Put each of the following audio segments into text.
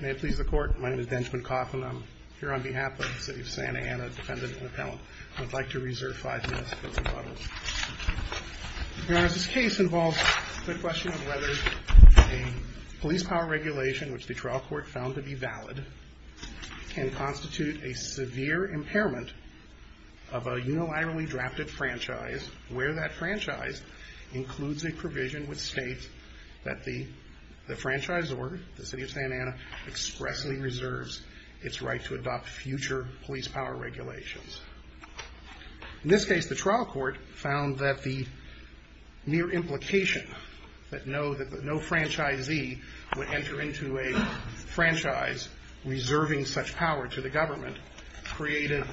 May it please the Court. My name is Benjamin Coffin. I'm here on behalf of the City of Santa Ana's Defendant and Appellant. I'd like to reserve five minutes for rebuttals. Your Honor, this case involves the question of whether a police power regulation which the trial court found to be valid can constitute a severe impairment of a unilaterally drafted franchise where that franchise includes a provision which states that the franchise order, the City of Santa Ana, expressly reserves its right to adopt future police power regulations. In this case, the trial court found that the mere implication that no franchisee would enter into a franchise reserving such power to the government created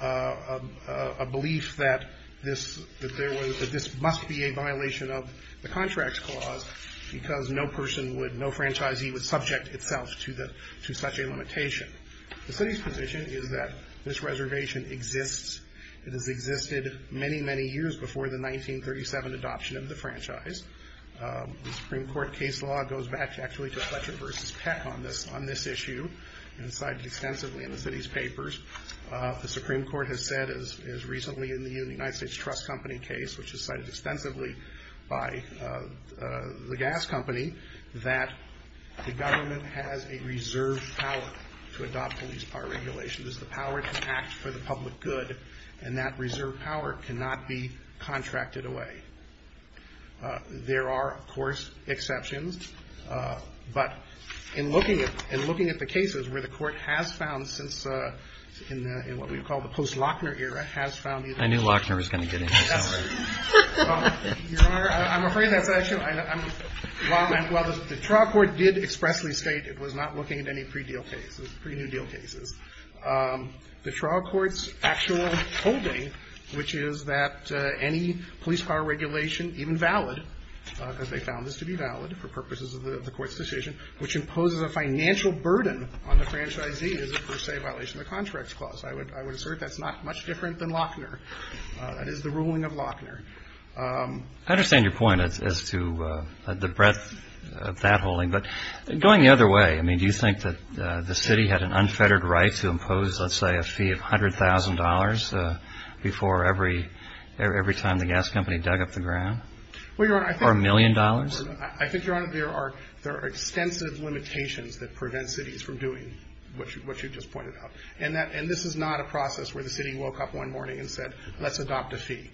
a belief that this must be a violation of the contract clause because no franchisee would subject itself to such a limitation. The City's position is that this reservation exists. It has existed many, many years before the 1937 adoption of the franchise. The Supreme Court case law goes back actually to Fletcher v. Peck on this issue and it's cited extensively in the City's papers. The Supreme Court has said as recently in the United States Trust Company case which is cited extensively by the gas company that the government has a reserved power to adopt police power regulations. The power to act for the public good and that reserved power cannot be contracted away. There are, of course, exceptions, but in looking at the cases where the court has found since in what we call the post-Lochner era has found these exceptions. I knew Lochner was going to get into this. I'm afraid that's actually wrong. While the trial court did expressly state it was not looking at any pre-deal cases, pre-new deal cases, the trial court's actual holding which is that any police power regulation, even valid, because they found this to be valid for purposes of the court's decision, which imposes a financial burden on the franchisee is a per se violation of the contract clause. I would assert that's not much different than Lochner. That is the ruling of Lochner. I understand your point as to the breadth of that holding, but going the other way, I mean do you think that the city had an unfettered right to impose, let's say, a fee of $100,000 before every time the gas company dug up the ground? Or a million dollars? I think, Your Honor, there are extensive limitations that prevent cities from doing what you just pointed out. And this is not a process where the city woke up one morning and said, let's adopt a fee.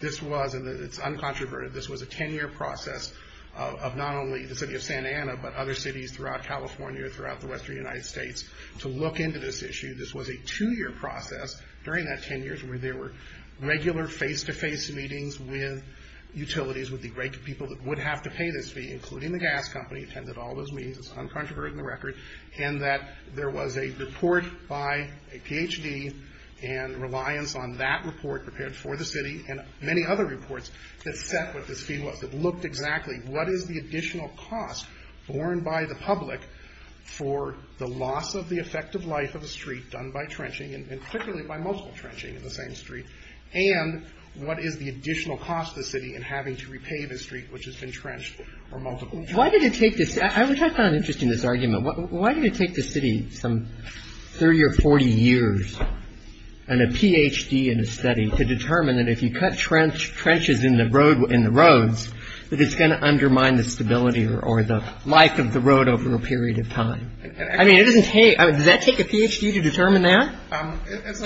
This was, and it's uncontroverted, this was a ten-year process of not only the city of Santa Ana, but other cities throughout California, throughout the western United States, to look into this issue. This was a two-year process during that ten years where there were regular face-to-face meetings with utilities, with the great people that would have to pay this fee, including the gas company, and they attended all those meetings. It's uncontroverted in the record. And that there was a report by a Ph.D. and reliance on that report prepared for the city and many other reports that set what this fee was, that looked exactly what is the additional cost borne by the public for the loss of the effective life of a street done by trenching, and particularly by multiple trenching in the same street, and what is the additional cost to the city in having to repay the street which has been trenched or multiple. Why did it take this, which I found interesting, this argument, why did it take the city some 30 or 40 years and a Ph.D. in a study to determine that if you cut trenches in the roads, that it's going to undermine the stability or the life of the road over a period of time? I mean, it doesn't take, does that take a Ph.D. to determine that?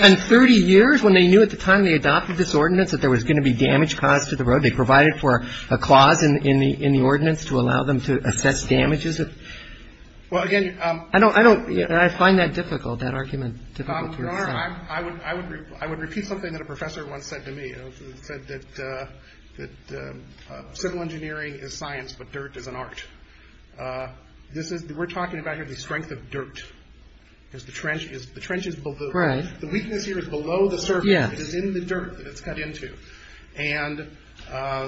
In 30 years, when they knew at the time they adopted this ordinance that there was going to be damage caused to the road, they provided for a clause in the ordinance to allow them to assess damages? I find that difficult, that argument difficult to understand. I would repeat something that a professor once said to me. He said that civil engineering is science, but dirt is an art. We're talking about here the strength of dirt, because the trench is below. The weakness here is below the surface. It's in the dirt that it's cut into. And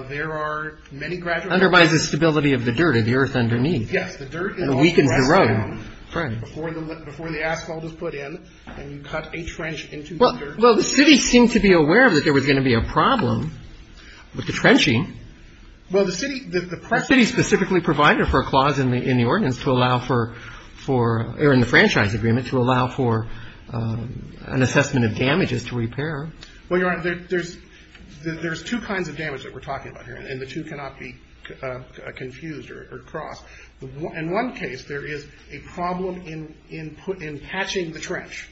there are many gradual changes. It undermines the stability of the dirt or the earth underneath. Yes, the dirt is also pressed down before the asphalt is put in, and you cut a trench into the dirt. Well, the city seemed to be aware that there was going to be a problem with the trenching. Well, the city, the press. The city specifically provided for a clause in the ordinance to allow for, or in the franchise agreement, to allow for an assessment of damages to repair. Well, Your Honor, there's two kinds of damage that we're talking about here, and the two cannot be confused or crossed. In one case, there is a problem in patching the trench.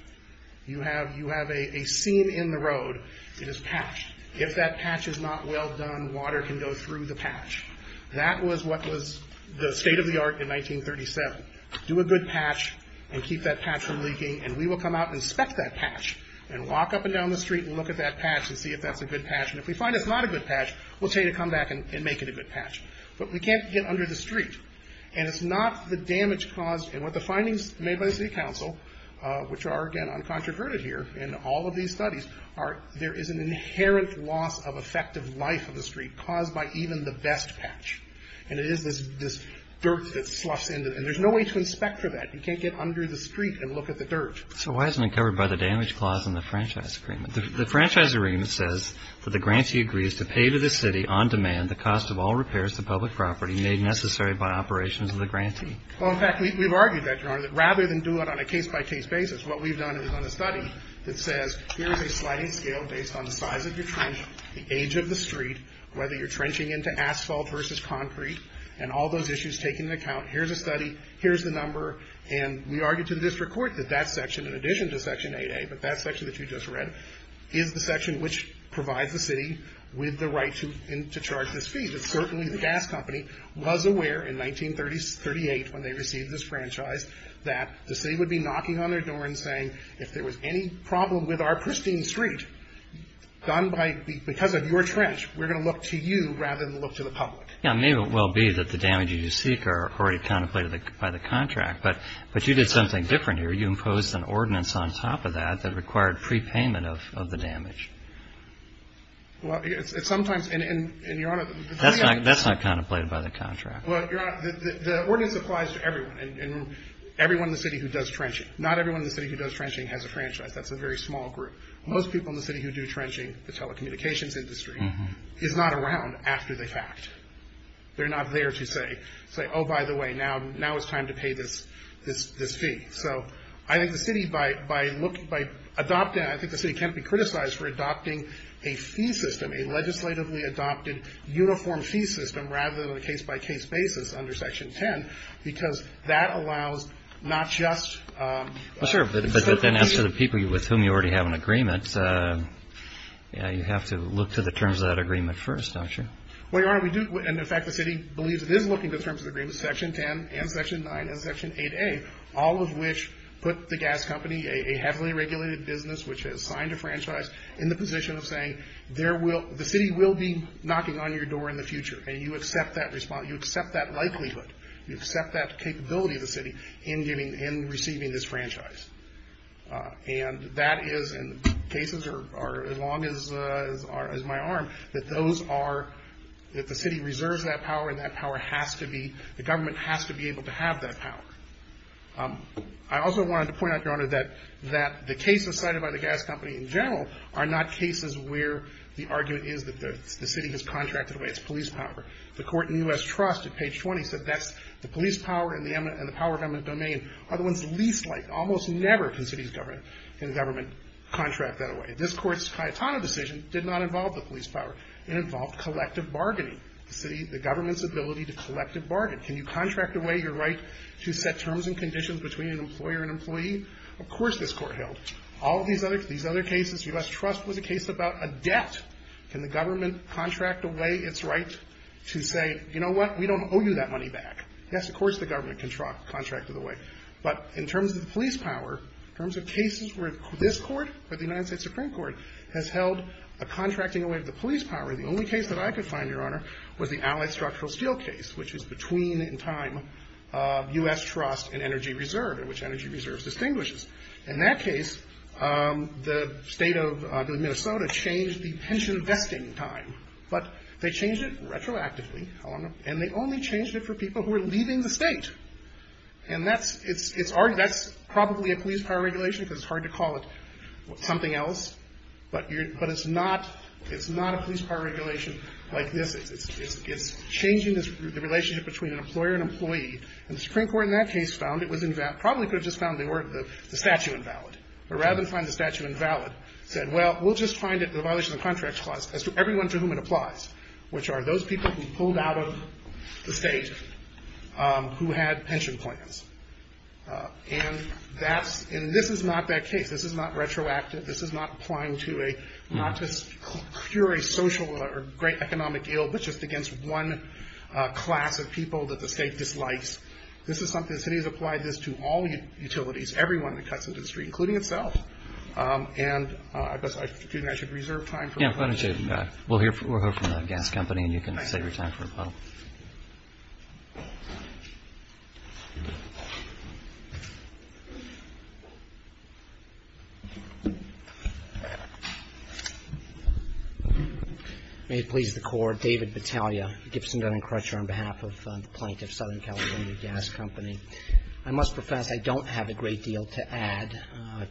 You have a seam in the road that is patched. If that patch is not well done, water can go through the patch. That was what was the state of the art in 1937. Do a good patch and keep that patch from leaking, and we will come out and inspect that patch and walk up and down the street and look at that patch and see if that's a good patch. And if we find it's not a good patch, we'll tell you to come back and make it a good patch. But we can't get under the street. And it's not the damage caused, and what the findings made by the city council, which are, again, uncontroverted here in all of these studies, there is an inherent loss of effective life of the street caused by even the best patch. And it is this dirt that sloughs into it. And there's no way to inspect for that. You can't get under the street and look at the dirt. So why isn't it covered by the damage clause in the franchise agreement? The franchise agreement says that the grantee agrees to pay to the city on demand the cost of all repairs to public property made necessary by operations of the grantee. Well, in fact, we've argued that, Your Honor, that rather than do it on a case-by-case basis, what we've done is done a study that says here is a sliding scale based on the size of your trench, the age of the street, whether you're trenching into asphalt versus concrete, and all those issues taken into account. Here's a study. Here's the number. And we argued to the district court that that section, in addition to Section 8A, but that section that you just read, is the section which provides the city with the right to charge this fee. But certainly the gas company was aware in 1938 when they received this franchise that the city would be knocking on their door and saying, if there was any problem with our pristine street done because of your trench, we're going to look to you rather than look to the public. Yeah, maybe it will be that the damage you seek are already contemplated by the contract. But you did something different here. You imposed an ordinance on top of that that required prepayment of the damage. Well, it's sometimes, and, Your Honor, That's not contemplated by the contract. Well, Your Honor, the ordinance applies to everyone, and everyone in the city who does trenching. Not everyone in the city who does trenching has a franchise. That's a very small group. Most people in the city who do trenching, the telecommunications industry, is not around after the fact. They're not there to say, oh, by the way, now it's time to pay this fee. So I think the city, by adopting, I think the city can't be criticized for adopting a fee system, a legislatively adopted uniform fee system rather than a case-by-case basis under Section 10, because that allows not just Well, sure, but then as to the people with whom you already have an agreement, you have to look to the terms of that agreement first, don't you? Well, Your Honor, we do, and in fact the city believes it is looking to the terms of the agreement, Section 10 and Section 9 and Section 8A, all of which put the gas company, a heavily regulated business which has signed a franchise, in the position of saying the city will be knocking on your door in the future, and you accept that likelihood. You accept that capability of the city in receiving this franchise. And that is, and cases are as long as my arm, that those are, that the city reserves that power, and that power has to be, the government has to be able to have that power. I also wanted to point out, Your Honor, that the cases cited by the gas company in general are not cases where the argument is that the city has contracted away its police power. The court in the U.S. Trust at page 20 said that's, the police power and the power of government domain are the ones least liked. Almost never can cities government, can government contract that away. This court's Cayetano decision did not involve the police power. It involved collective bargaining. The city, the government's ability to collect a bargain. Can you contract away your right to set terms and conditions between an employer and employee? Of course this court held. All of these other cases, U.S. Trust was a case about a debt. Can the government contract away its right to say, you know what, we don't owe you that money back? Yes, of course the government contracted away. But in terms of the police power, in terms of cases where this court, or the United States Supreme Court, has held a contracting away of the police power, the only case that I could find, Your Honor, was the Allied Structural Steel case, which is between in time, U.S. Trust and Energy Reserve, in which Energy Reserve distinguishes. In that case, the state of Minnesota changed the pension vesting time. But they changed it retroactively, Your Honor, and they only changed it for people who were leaving the state. And that's probably a police power regulation, because it's hard to call it something else. But it's not a police power regulation like this. It's changing the relationship between an employer and employee. And the Supreme Court in that case found it was, probably could have just found the statute invalid. But rather than find the statute invalid, said, well, we'll just find the violation of the contract clause as to everyone to whom it applies, which are those people who pulled out of the state who had pension plans. And this is not that case. This is not retroactive. This is not applying to a, not just pure a social or great economic ill, but just against one class of people that the state dislikes. This is something, the city has applied this to all utilities, everyone that cuts into the street, including itself. And I guess, excuse me, I should reserve time for questions. Roberts. We'll hear from the gas company, and you can save your time for a follow-up. May it please the Court. David Battaglia, Gibson Gun and Crutcher, on behalf of the plaintiff, Southern California Gas Company. I must profess I don't have a great deal to add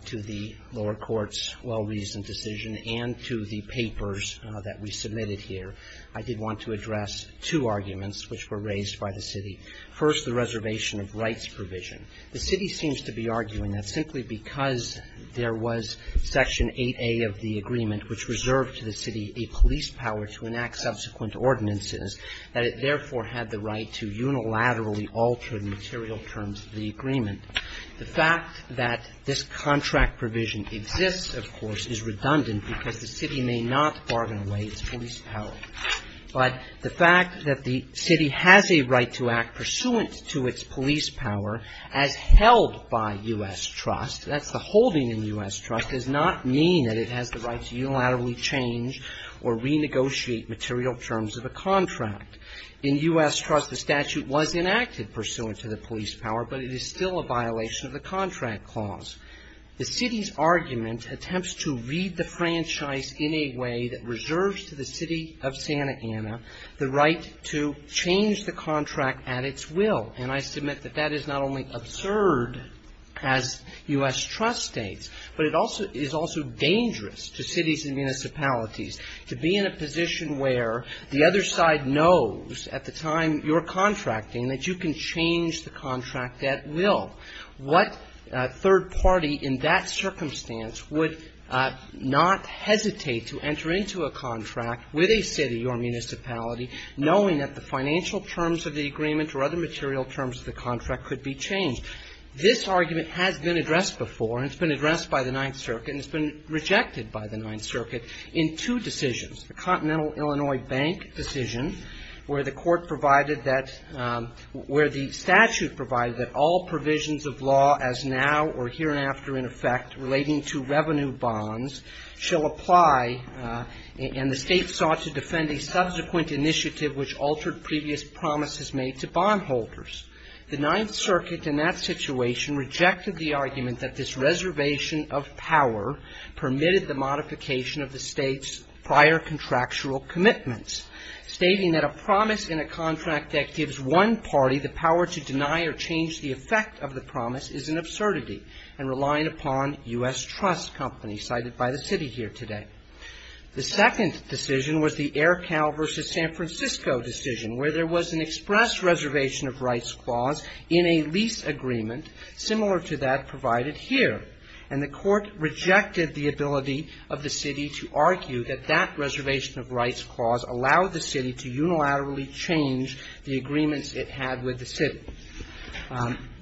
to the lower court's well-reasoned decision and to the papers that we submitted here. I did want to address two arguments which were raised by the city. First, the reservation of rights provision. The city seems to be arguing that simply because there was Section 8A of the agreement which reserved to the city a police power to enact subsequent ordinances, that it therefore had the right to unilaterally alter the material terms of the agreement. The fact that this contract provision exists, of course, is redundant because the city may not bargain away its police power. But the fact that the city has a right to act pursuant to its police power, as held by U.S. trust, that's the holding in U.S. trust, does not mean that it has the right to unilaterally change or renegotiate material terms of a contract. In U.S. trust, the statute was enacted pursuant to the police power, but it is still a violation of the contract clause. The city's argument attempts to read the franchise in a way that reserves to the city of Santa Ana the right to change the contract at its will. And I submit that that is not only absurd, as U.S. trust states, but it also is also dangerous to cities and municipalities to be in a position where the other side knows at the time you're contracting that you can change the contract at will. What third party in that circumstance would not hesitate to enter into a contract with a city or municipality, knowing that the financial terms of the agreement or other material terms of the contract could be changed? This argument has been addressed before, and it's been addressed by the Ninth Circuit, and it's been rejected by the Ninth Circuit in two decisions. The Continental Illinois Bank decision, where the court provided that, where the statute provided that all provisions of law as now or hereafter in effect relating to revenue bonds shall apply, and the State sought to defend a subsequent initiative which altered previous promises made to bondholders. The Ninth Circuit in that situation rejected the argument that this reservation of power permitted the modification of the State's prior contractual commitments, stating that a promise in a contract that gives one party the power to deny or change the effect of the promise is an absurdity and relying upon U.S. trust company, cited by the city here today. The second decision was the Air Cal versus San Francisco decision, where there was an express reservation of rights clause in a lease agreement similar to that provided here. And the court rejected the ability of the city to argue that that reservation of rights clause allowed the city to unilaterally change the agreements it had with the city.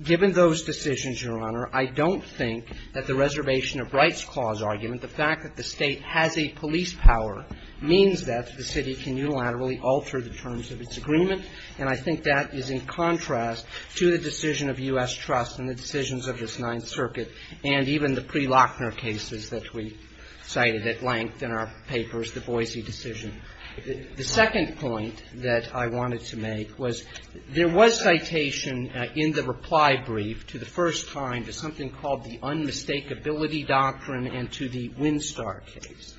Given those decisions, Your Honor, I don't think that the reservation of rights clause argument, the fact that the State has a police power, means that the city can unilaterally alter the terms of its agreement. And I think that is in contrast to the decision of U.S. trust and the decisions of this Ninth Circuit and even the pre-Lochner cases that we cited at length in our papers, the Boise decision. The second point that I wanted to make was there was citation in the reply brief to the first time to something called the unmistakability doctrine and to the Winstar case.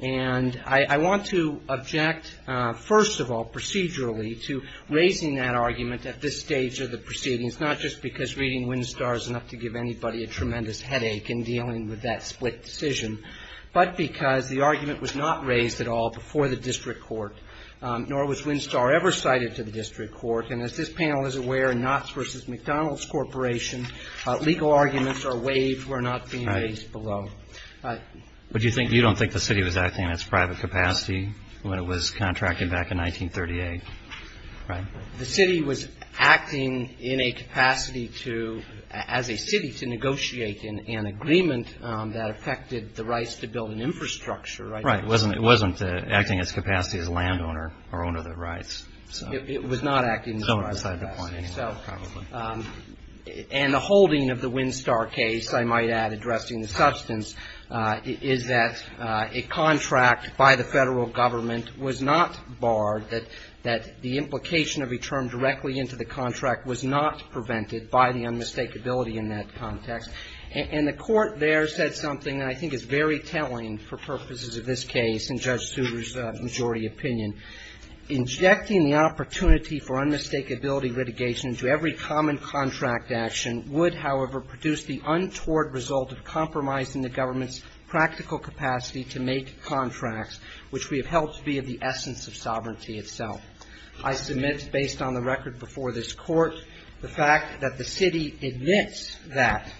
And I want to object, first of all, procedurally, to raising that argument at this stage of the proceedings, not just because reading Winstar is enough to give anybody a tremendous headache in dealing with that split decision, but because the argument was not raised at all before the district court, nor was Winstar ever cited to the district court. And as this panel is aware, in Knotts v. McDonald's Corporation, legal arguments are waived, were not being raised below. But you don't think the city was acting in its private capacity when it was contracting back in 1938? Right? The city was acting in a capacity to, as a city, to negotiate an agreement that affected the rights to build an infrastructure, right? Right. It wasn't acting in its capacity as a landowner or owner of the rights. It was not acting in its private capacity. Somewhere beside the point anyway, probably. And the holding of the Winstar case, I might add, addressing the substance, is that a contract by the Federal Government was not barred, that the implication of a term directly into the contract was not prevented by the unmistakability in that context. And the Court there said something that I think is very telling for purposes of this opinion. Injecting the opportunity for unmistakability litigation into every common contract action would, however, produce the untoward result of compromising the government's practical capacity to make contracts, which we have held to be of the essence of sovereignty itself. I submit, based on the record before this Court, the fact that the city admits that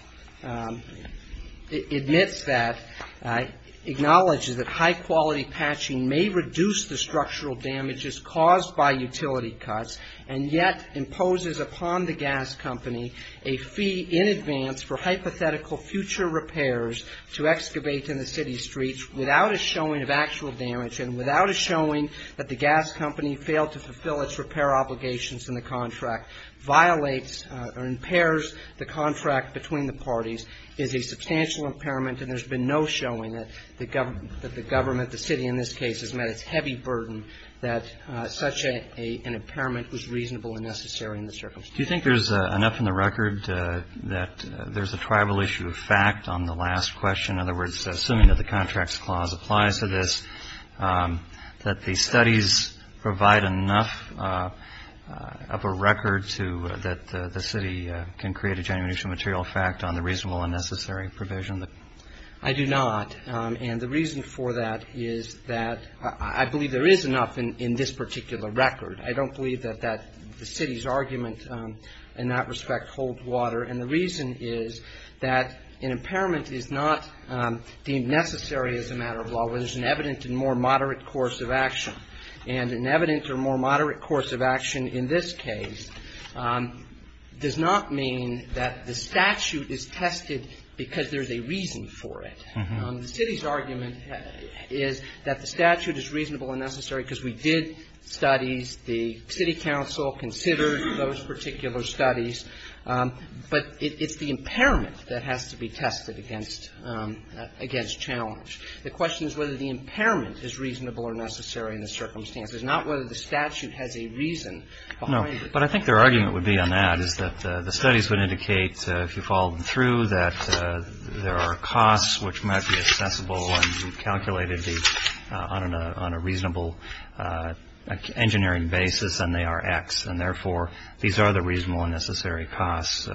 acknowledges that high-quality patching may reduce the structural damages caused by utility cuts, and yet imposes upon the gas company a fee in advance for hypothetical future repairs to excavate in the city streets without a showing of actual damage, and without a showing that the gas company failed to fulfill its repair obligations in the contract, violates or impairs the contract between the parties, is a substantial impairment, and there's been no showing that the government, the city in this case, has met its heavy burden that such an impairment was reasonable and necessary in the circumstances. Do you think there's enough in the record that there's a tribal issue of fact on the last question, in other words, assuming that the Contracts Clause applies to this, that the studies provide enough of a record to, that the city can create a genuine substantial material fact on the reasonable and necessary provision? I do not. And the reason for that is that I believe there is enough in this particular record. I don't believe that the city's argument in that respect holds water. And the reason is that an impairment is not deemed necessary as a matter of law. It is an evident and more moderate course of action. And an evident or more moderate course of action in this case does not mean that the statute is tested because there's a reason for it. The city's argument is that the statute is reasonable and necessary because we did studies, the city council considered those particular studies, but it's the impairment that has to be tested against challenge. The question is whether the impairment is reasonable or necessary in the circumstances, not whether the statute has a reason behind it. No. But I think their argument would be on that is that the studies would indicate, if you follow them through, that there are costs which might be accessible and calculated on a reasonable engineering basis, and they are X. And therefore, these are the reasonable and necessary costs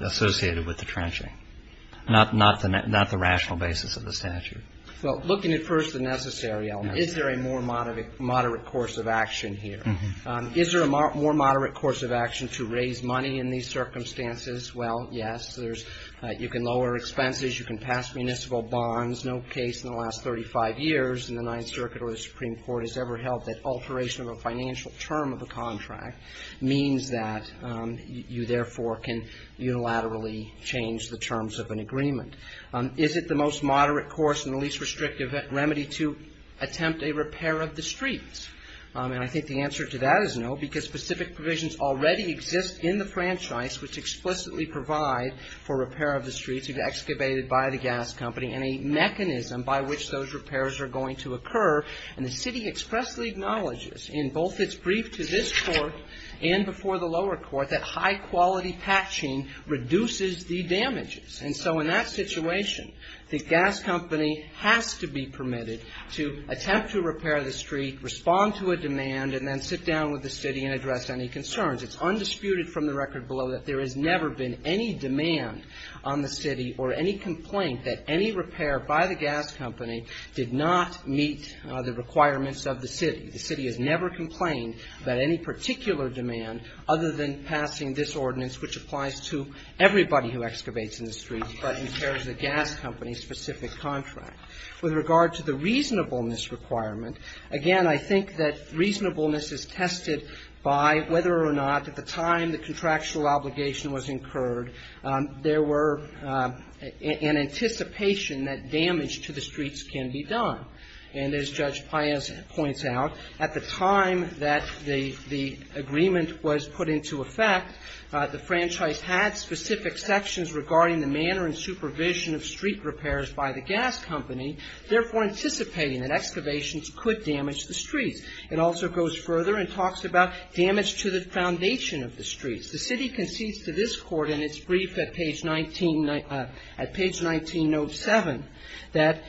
associated with the statute. Well, looking at first the necessary element, is there a more moderate course of action here? Is there a more moderate course of action to raise money in these circumstances? Well, yes. There's you can lower expenses. You can pass municipal bonds. No case in the last 35 years in the Ninth Circuit or the Supreme Court has ever held that alteration of a financial term of a contract means that you, therefore, can unilaterally change the terms of an agreement. Is it the most moderate course and the least restrictive remedy to attempt a repair of the streets? And I think the answer to that is no, because specific provisions already exist in the franchise which explicitly provide for repair of the streets if excavated by the gas company and a mechanism by which those repairs are going to occur. And the city expressly acknowledges in both its brief to this Court and before the lower court that high-quality patching reduces the damages. And so in that situation, the gas company has to be permitted to attempt to repair the street, respond to a demand, and then sit down with the city and address any concerns. It's undisputed from the record below that there has never been any demand on the city or any complaint that any repair by the gas company did not meet the requirements of the city. The city has never complained about any particular demand other than passing this specific contract. With regard to the reasonableness requirement, again, I think that reasonableness is tested by whether or not at the time the contractual obligation was incurred there were an anticipation that damage to the streets can be done. And as Judge Paez points out, at the time that the agreement was put into effect, the franchise had specific sections regarding the manner and supervision of street repairs by the gas company, therefore anticipating that excavations could damage the streets. It also goes further and talks about damage to the foundation of the streets. The city concedes to this Court in its brief at page 19 of 7 that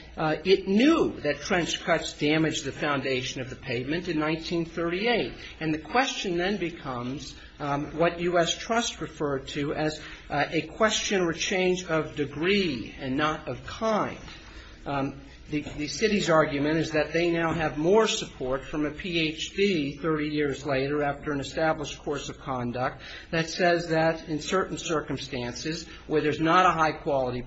it knew that trench cuts damaged the foundation of the pavement in 1938. And the question then becomes what U.S. Trust referred to as a question or change of degree and not of kind. The city's argument is that they now have more support from a Ph.D. 30 years later after an established course of conduct that says that in certain circumstances where there's not a high-quality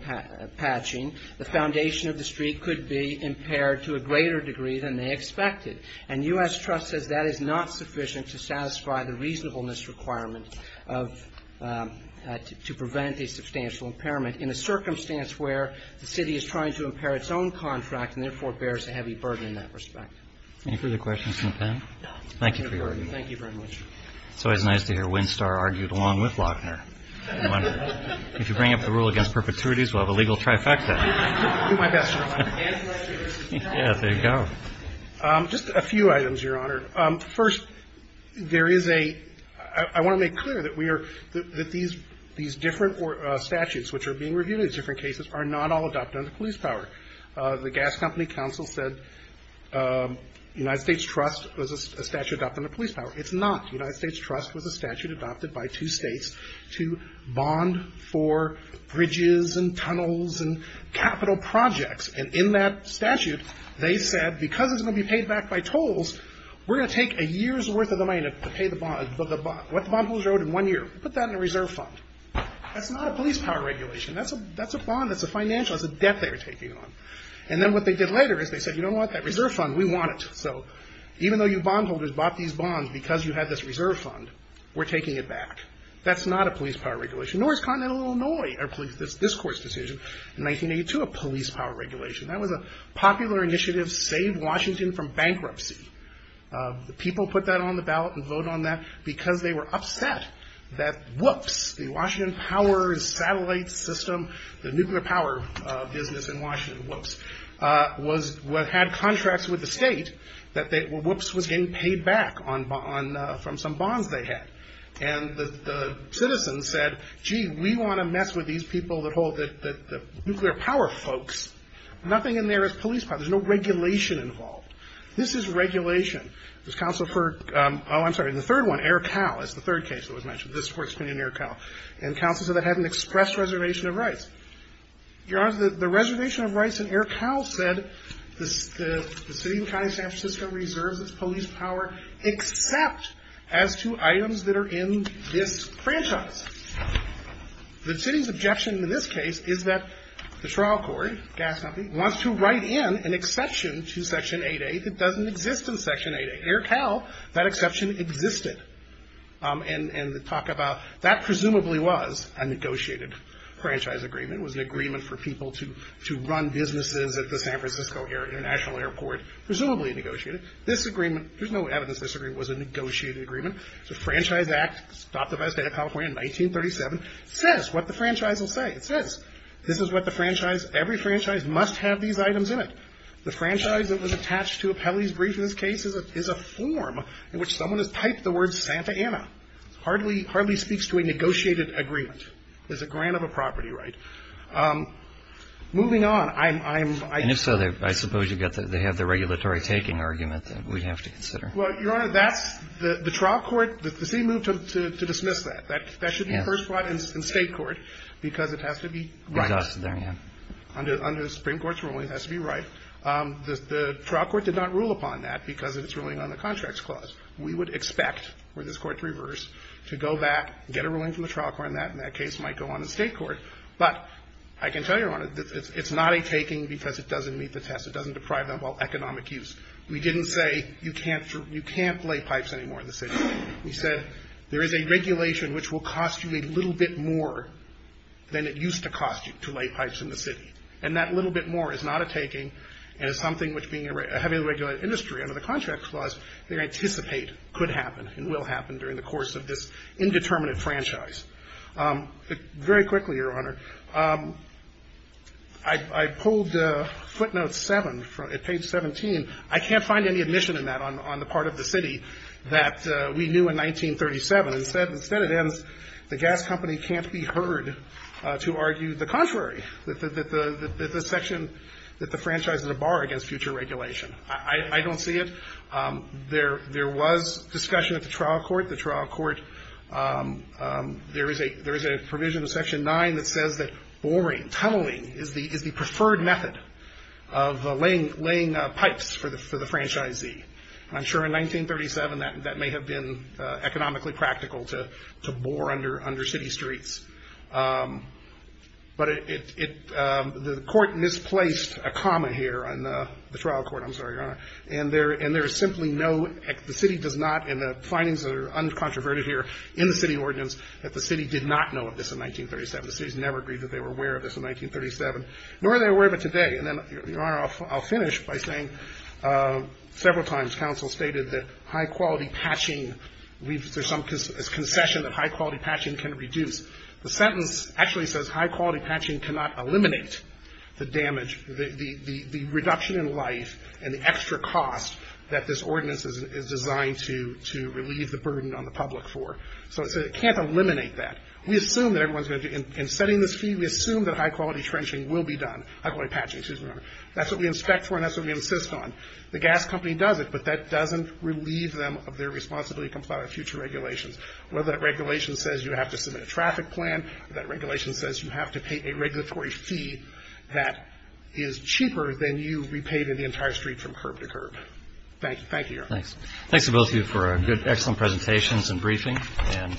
patching, the foundation of the street could be impaired to a greater degree than they expected. And U.S. Trust says that is not sufficient to satisfy the reasonableness requirement of to prevent a substantial impairment in a circumstance where the city is trying to impair its own contract and therefore bears a heavy burden in that respect. Any further questions from the panel? Thank you for your argument. Thank you very much. It's always nice to hear Winstar argued along with Lochner. If you bring up the rule against perpetuities, we'll have a legal trifecta. I'll do my best to remind you. Yeah, there you go. Just a few items, Your Honor. First, there is a – I want to make clear that we are – that these different statutes which are being reviewed in these different cases are not all adopted under police power. The Gas Company Council said United States Trust was a statute adopted under police power. It's not. United States Trust was a statute adopted by two states to bond for bridges and tunnels and capital projects. And in that statute, they said because it's going to be paid back by tolls, we're going to take a year's worth of the money to pay the bond. What the bondholders owed in one year, put that in a reserve fund. That's not a police power regulation. That's a bond. That's a financial. That's a debt they were taking on. And then what they did later is they said you don't want that reserve fund. We want it. So even though you bondholders bought these bonds because you had this reserve fund, we're taking it back. That's not a police power regulation. North Continental Illinois, this court's decision in 1982, a police power regulation. That was a popular initiative, saved Washington from bankruptcy. People put that on the ballot and voted on that because they were upset that whoops, the Washington Power Satellite System, the nuclear power business in Washington, whoops, had contracts with the state that whoops was getting paid back from some bonds they had. And the citizens said, gee, we want to mess with these people that hold the nuclear power folks. Nothing in there is police power. There's no regulation involved. This is regulation. This counsel for, oh, I'm sorry, the third one, Air Cal, is the third case that was mentioned. This court's opinion in Air Cal. And counsel said that had an express reservation of rights. Your Honor, the reservation of rights in Air Cal said the city and county of except as to items that are in this franchise. The city's objection in this case is that the trial court, gas company, wants to write in an exception to Section 8A that doesn't exist in Section 8A. Air Cal, that exception existed. And talk about that presumably was a negotiated franchise agreement. It was an agreement for people to run businesses at the San Francisco International Airport. Presumably negotiated. This agreement, there's no evidence this agreement was a negotiated agreement. It's a Franchise Act. It was adopted by the State of California in 1937. It says what the franchise will say. It says this is what the franchise, every franchise must have these items in it. The franchise that was attached to Appellee's Brief in this case is a form in which someone has typed the word Santa Ana. It hardly speaks to a negotiated agreement. It's a grant of a property right. Moving on, I'm. And if so, I suppose they have the regulatory taking argument that we have to consider. Well, Your Honor, that's the trial court, the city moved to dismiss that. That should be first brought in State court because it has to be right. Exhausted there, yeah. Under the Supreme Court's ruling, it has to be right. The trial court did not rule upon that because of its ruling on the contracts clause. We would expect for this court to reverse, to go back, get a ruling from the trial court, and that case might go on to State court. But I can tell you, Your Honor, it's not a taking because it doesn't meet the test. It doesn't deprive them of all economic use. We didn't say you can't lay pipes anymore in the city. We said there is a regulation which will cost you a little bit more than it used to cost you to lay pipes in the city. And that little bit more is not a taking and is something which being a heavily regulated industry under the contract clause, they anticipate could happen and will happen during the course of this indeterminate franchise. Very quickly, Your Honor, I pulled footnote 7 at page 17. I can't find any admission in that on the part of the city that we knew in 1937. Instead it ends, the gas company can't be heard to argue the contrary, that the section that the franchise is a bar against future regulation. I don't see it. There was discussion at the trial court. The trial court, there is a provision in section 9 that says that boring, tunneling is the preferred method of laying pipes for the franchisee. I'm sure in 1937 that may have been economically practical to bore under city streets. But the court misplaced a comma here on the trial court. I'm sorry, Your Honor. And there is simply no, the city does not, and the findings are uncontroverted here in the city ordinance, that the city did not know of this in 1937. The city has never agreed that they were aware of this in 1937, nor are they aware of it today. And then, Your Honor, I'll finish by saying several times counsel stated that high quality patching, there's some concession that high quality patching can reduce. The sentence actually says high quality patching cannot eliminate the damage, the extra cost that this ordinance is designed to relieve the burden on the public for. So it can't eliminate that. We assume that everyone's going to, in setting this fee, we assume that high quality trenching will be done, high quality patching, excuse me, Your Honor. That's what we inspect for and that's what we insist on. The gas company does it, but that doesn't relieve them of their responsibility to comply with future regulations. Whether that regulation says you have to submit a traffic plan, that regulation says you have to pay a regulatory fee that is cheaper than you repaid in the entire street from curb to curb. Thank you. Thank you, Your Honor. Thanks. Thanks to both of you for a good, excellent presentations and briefing and we'll take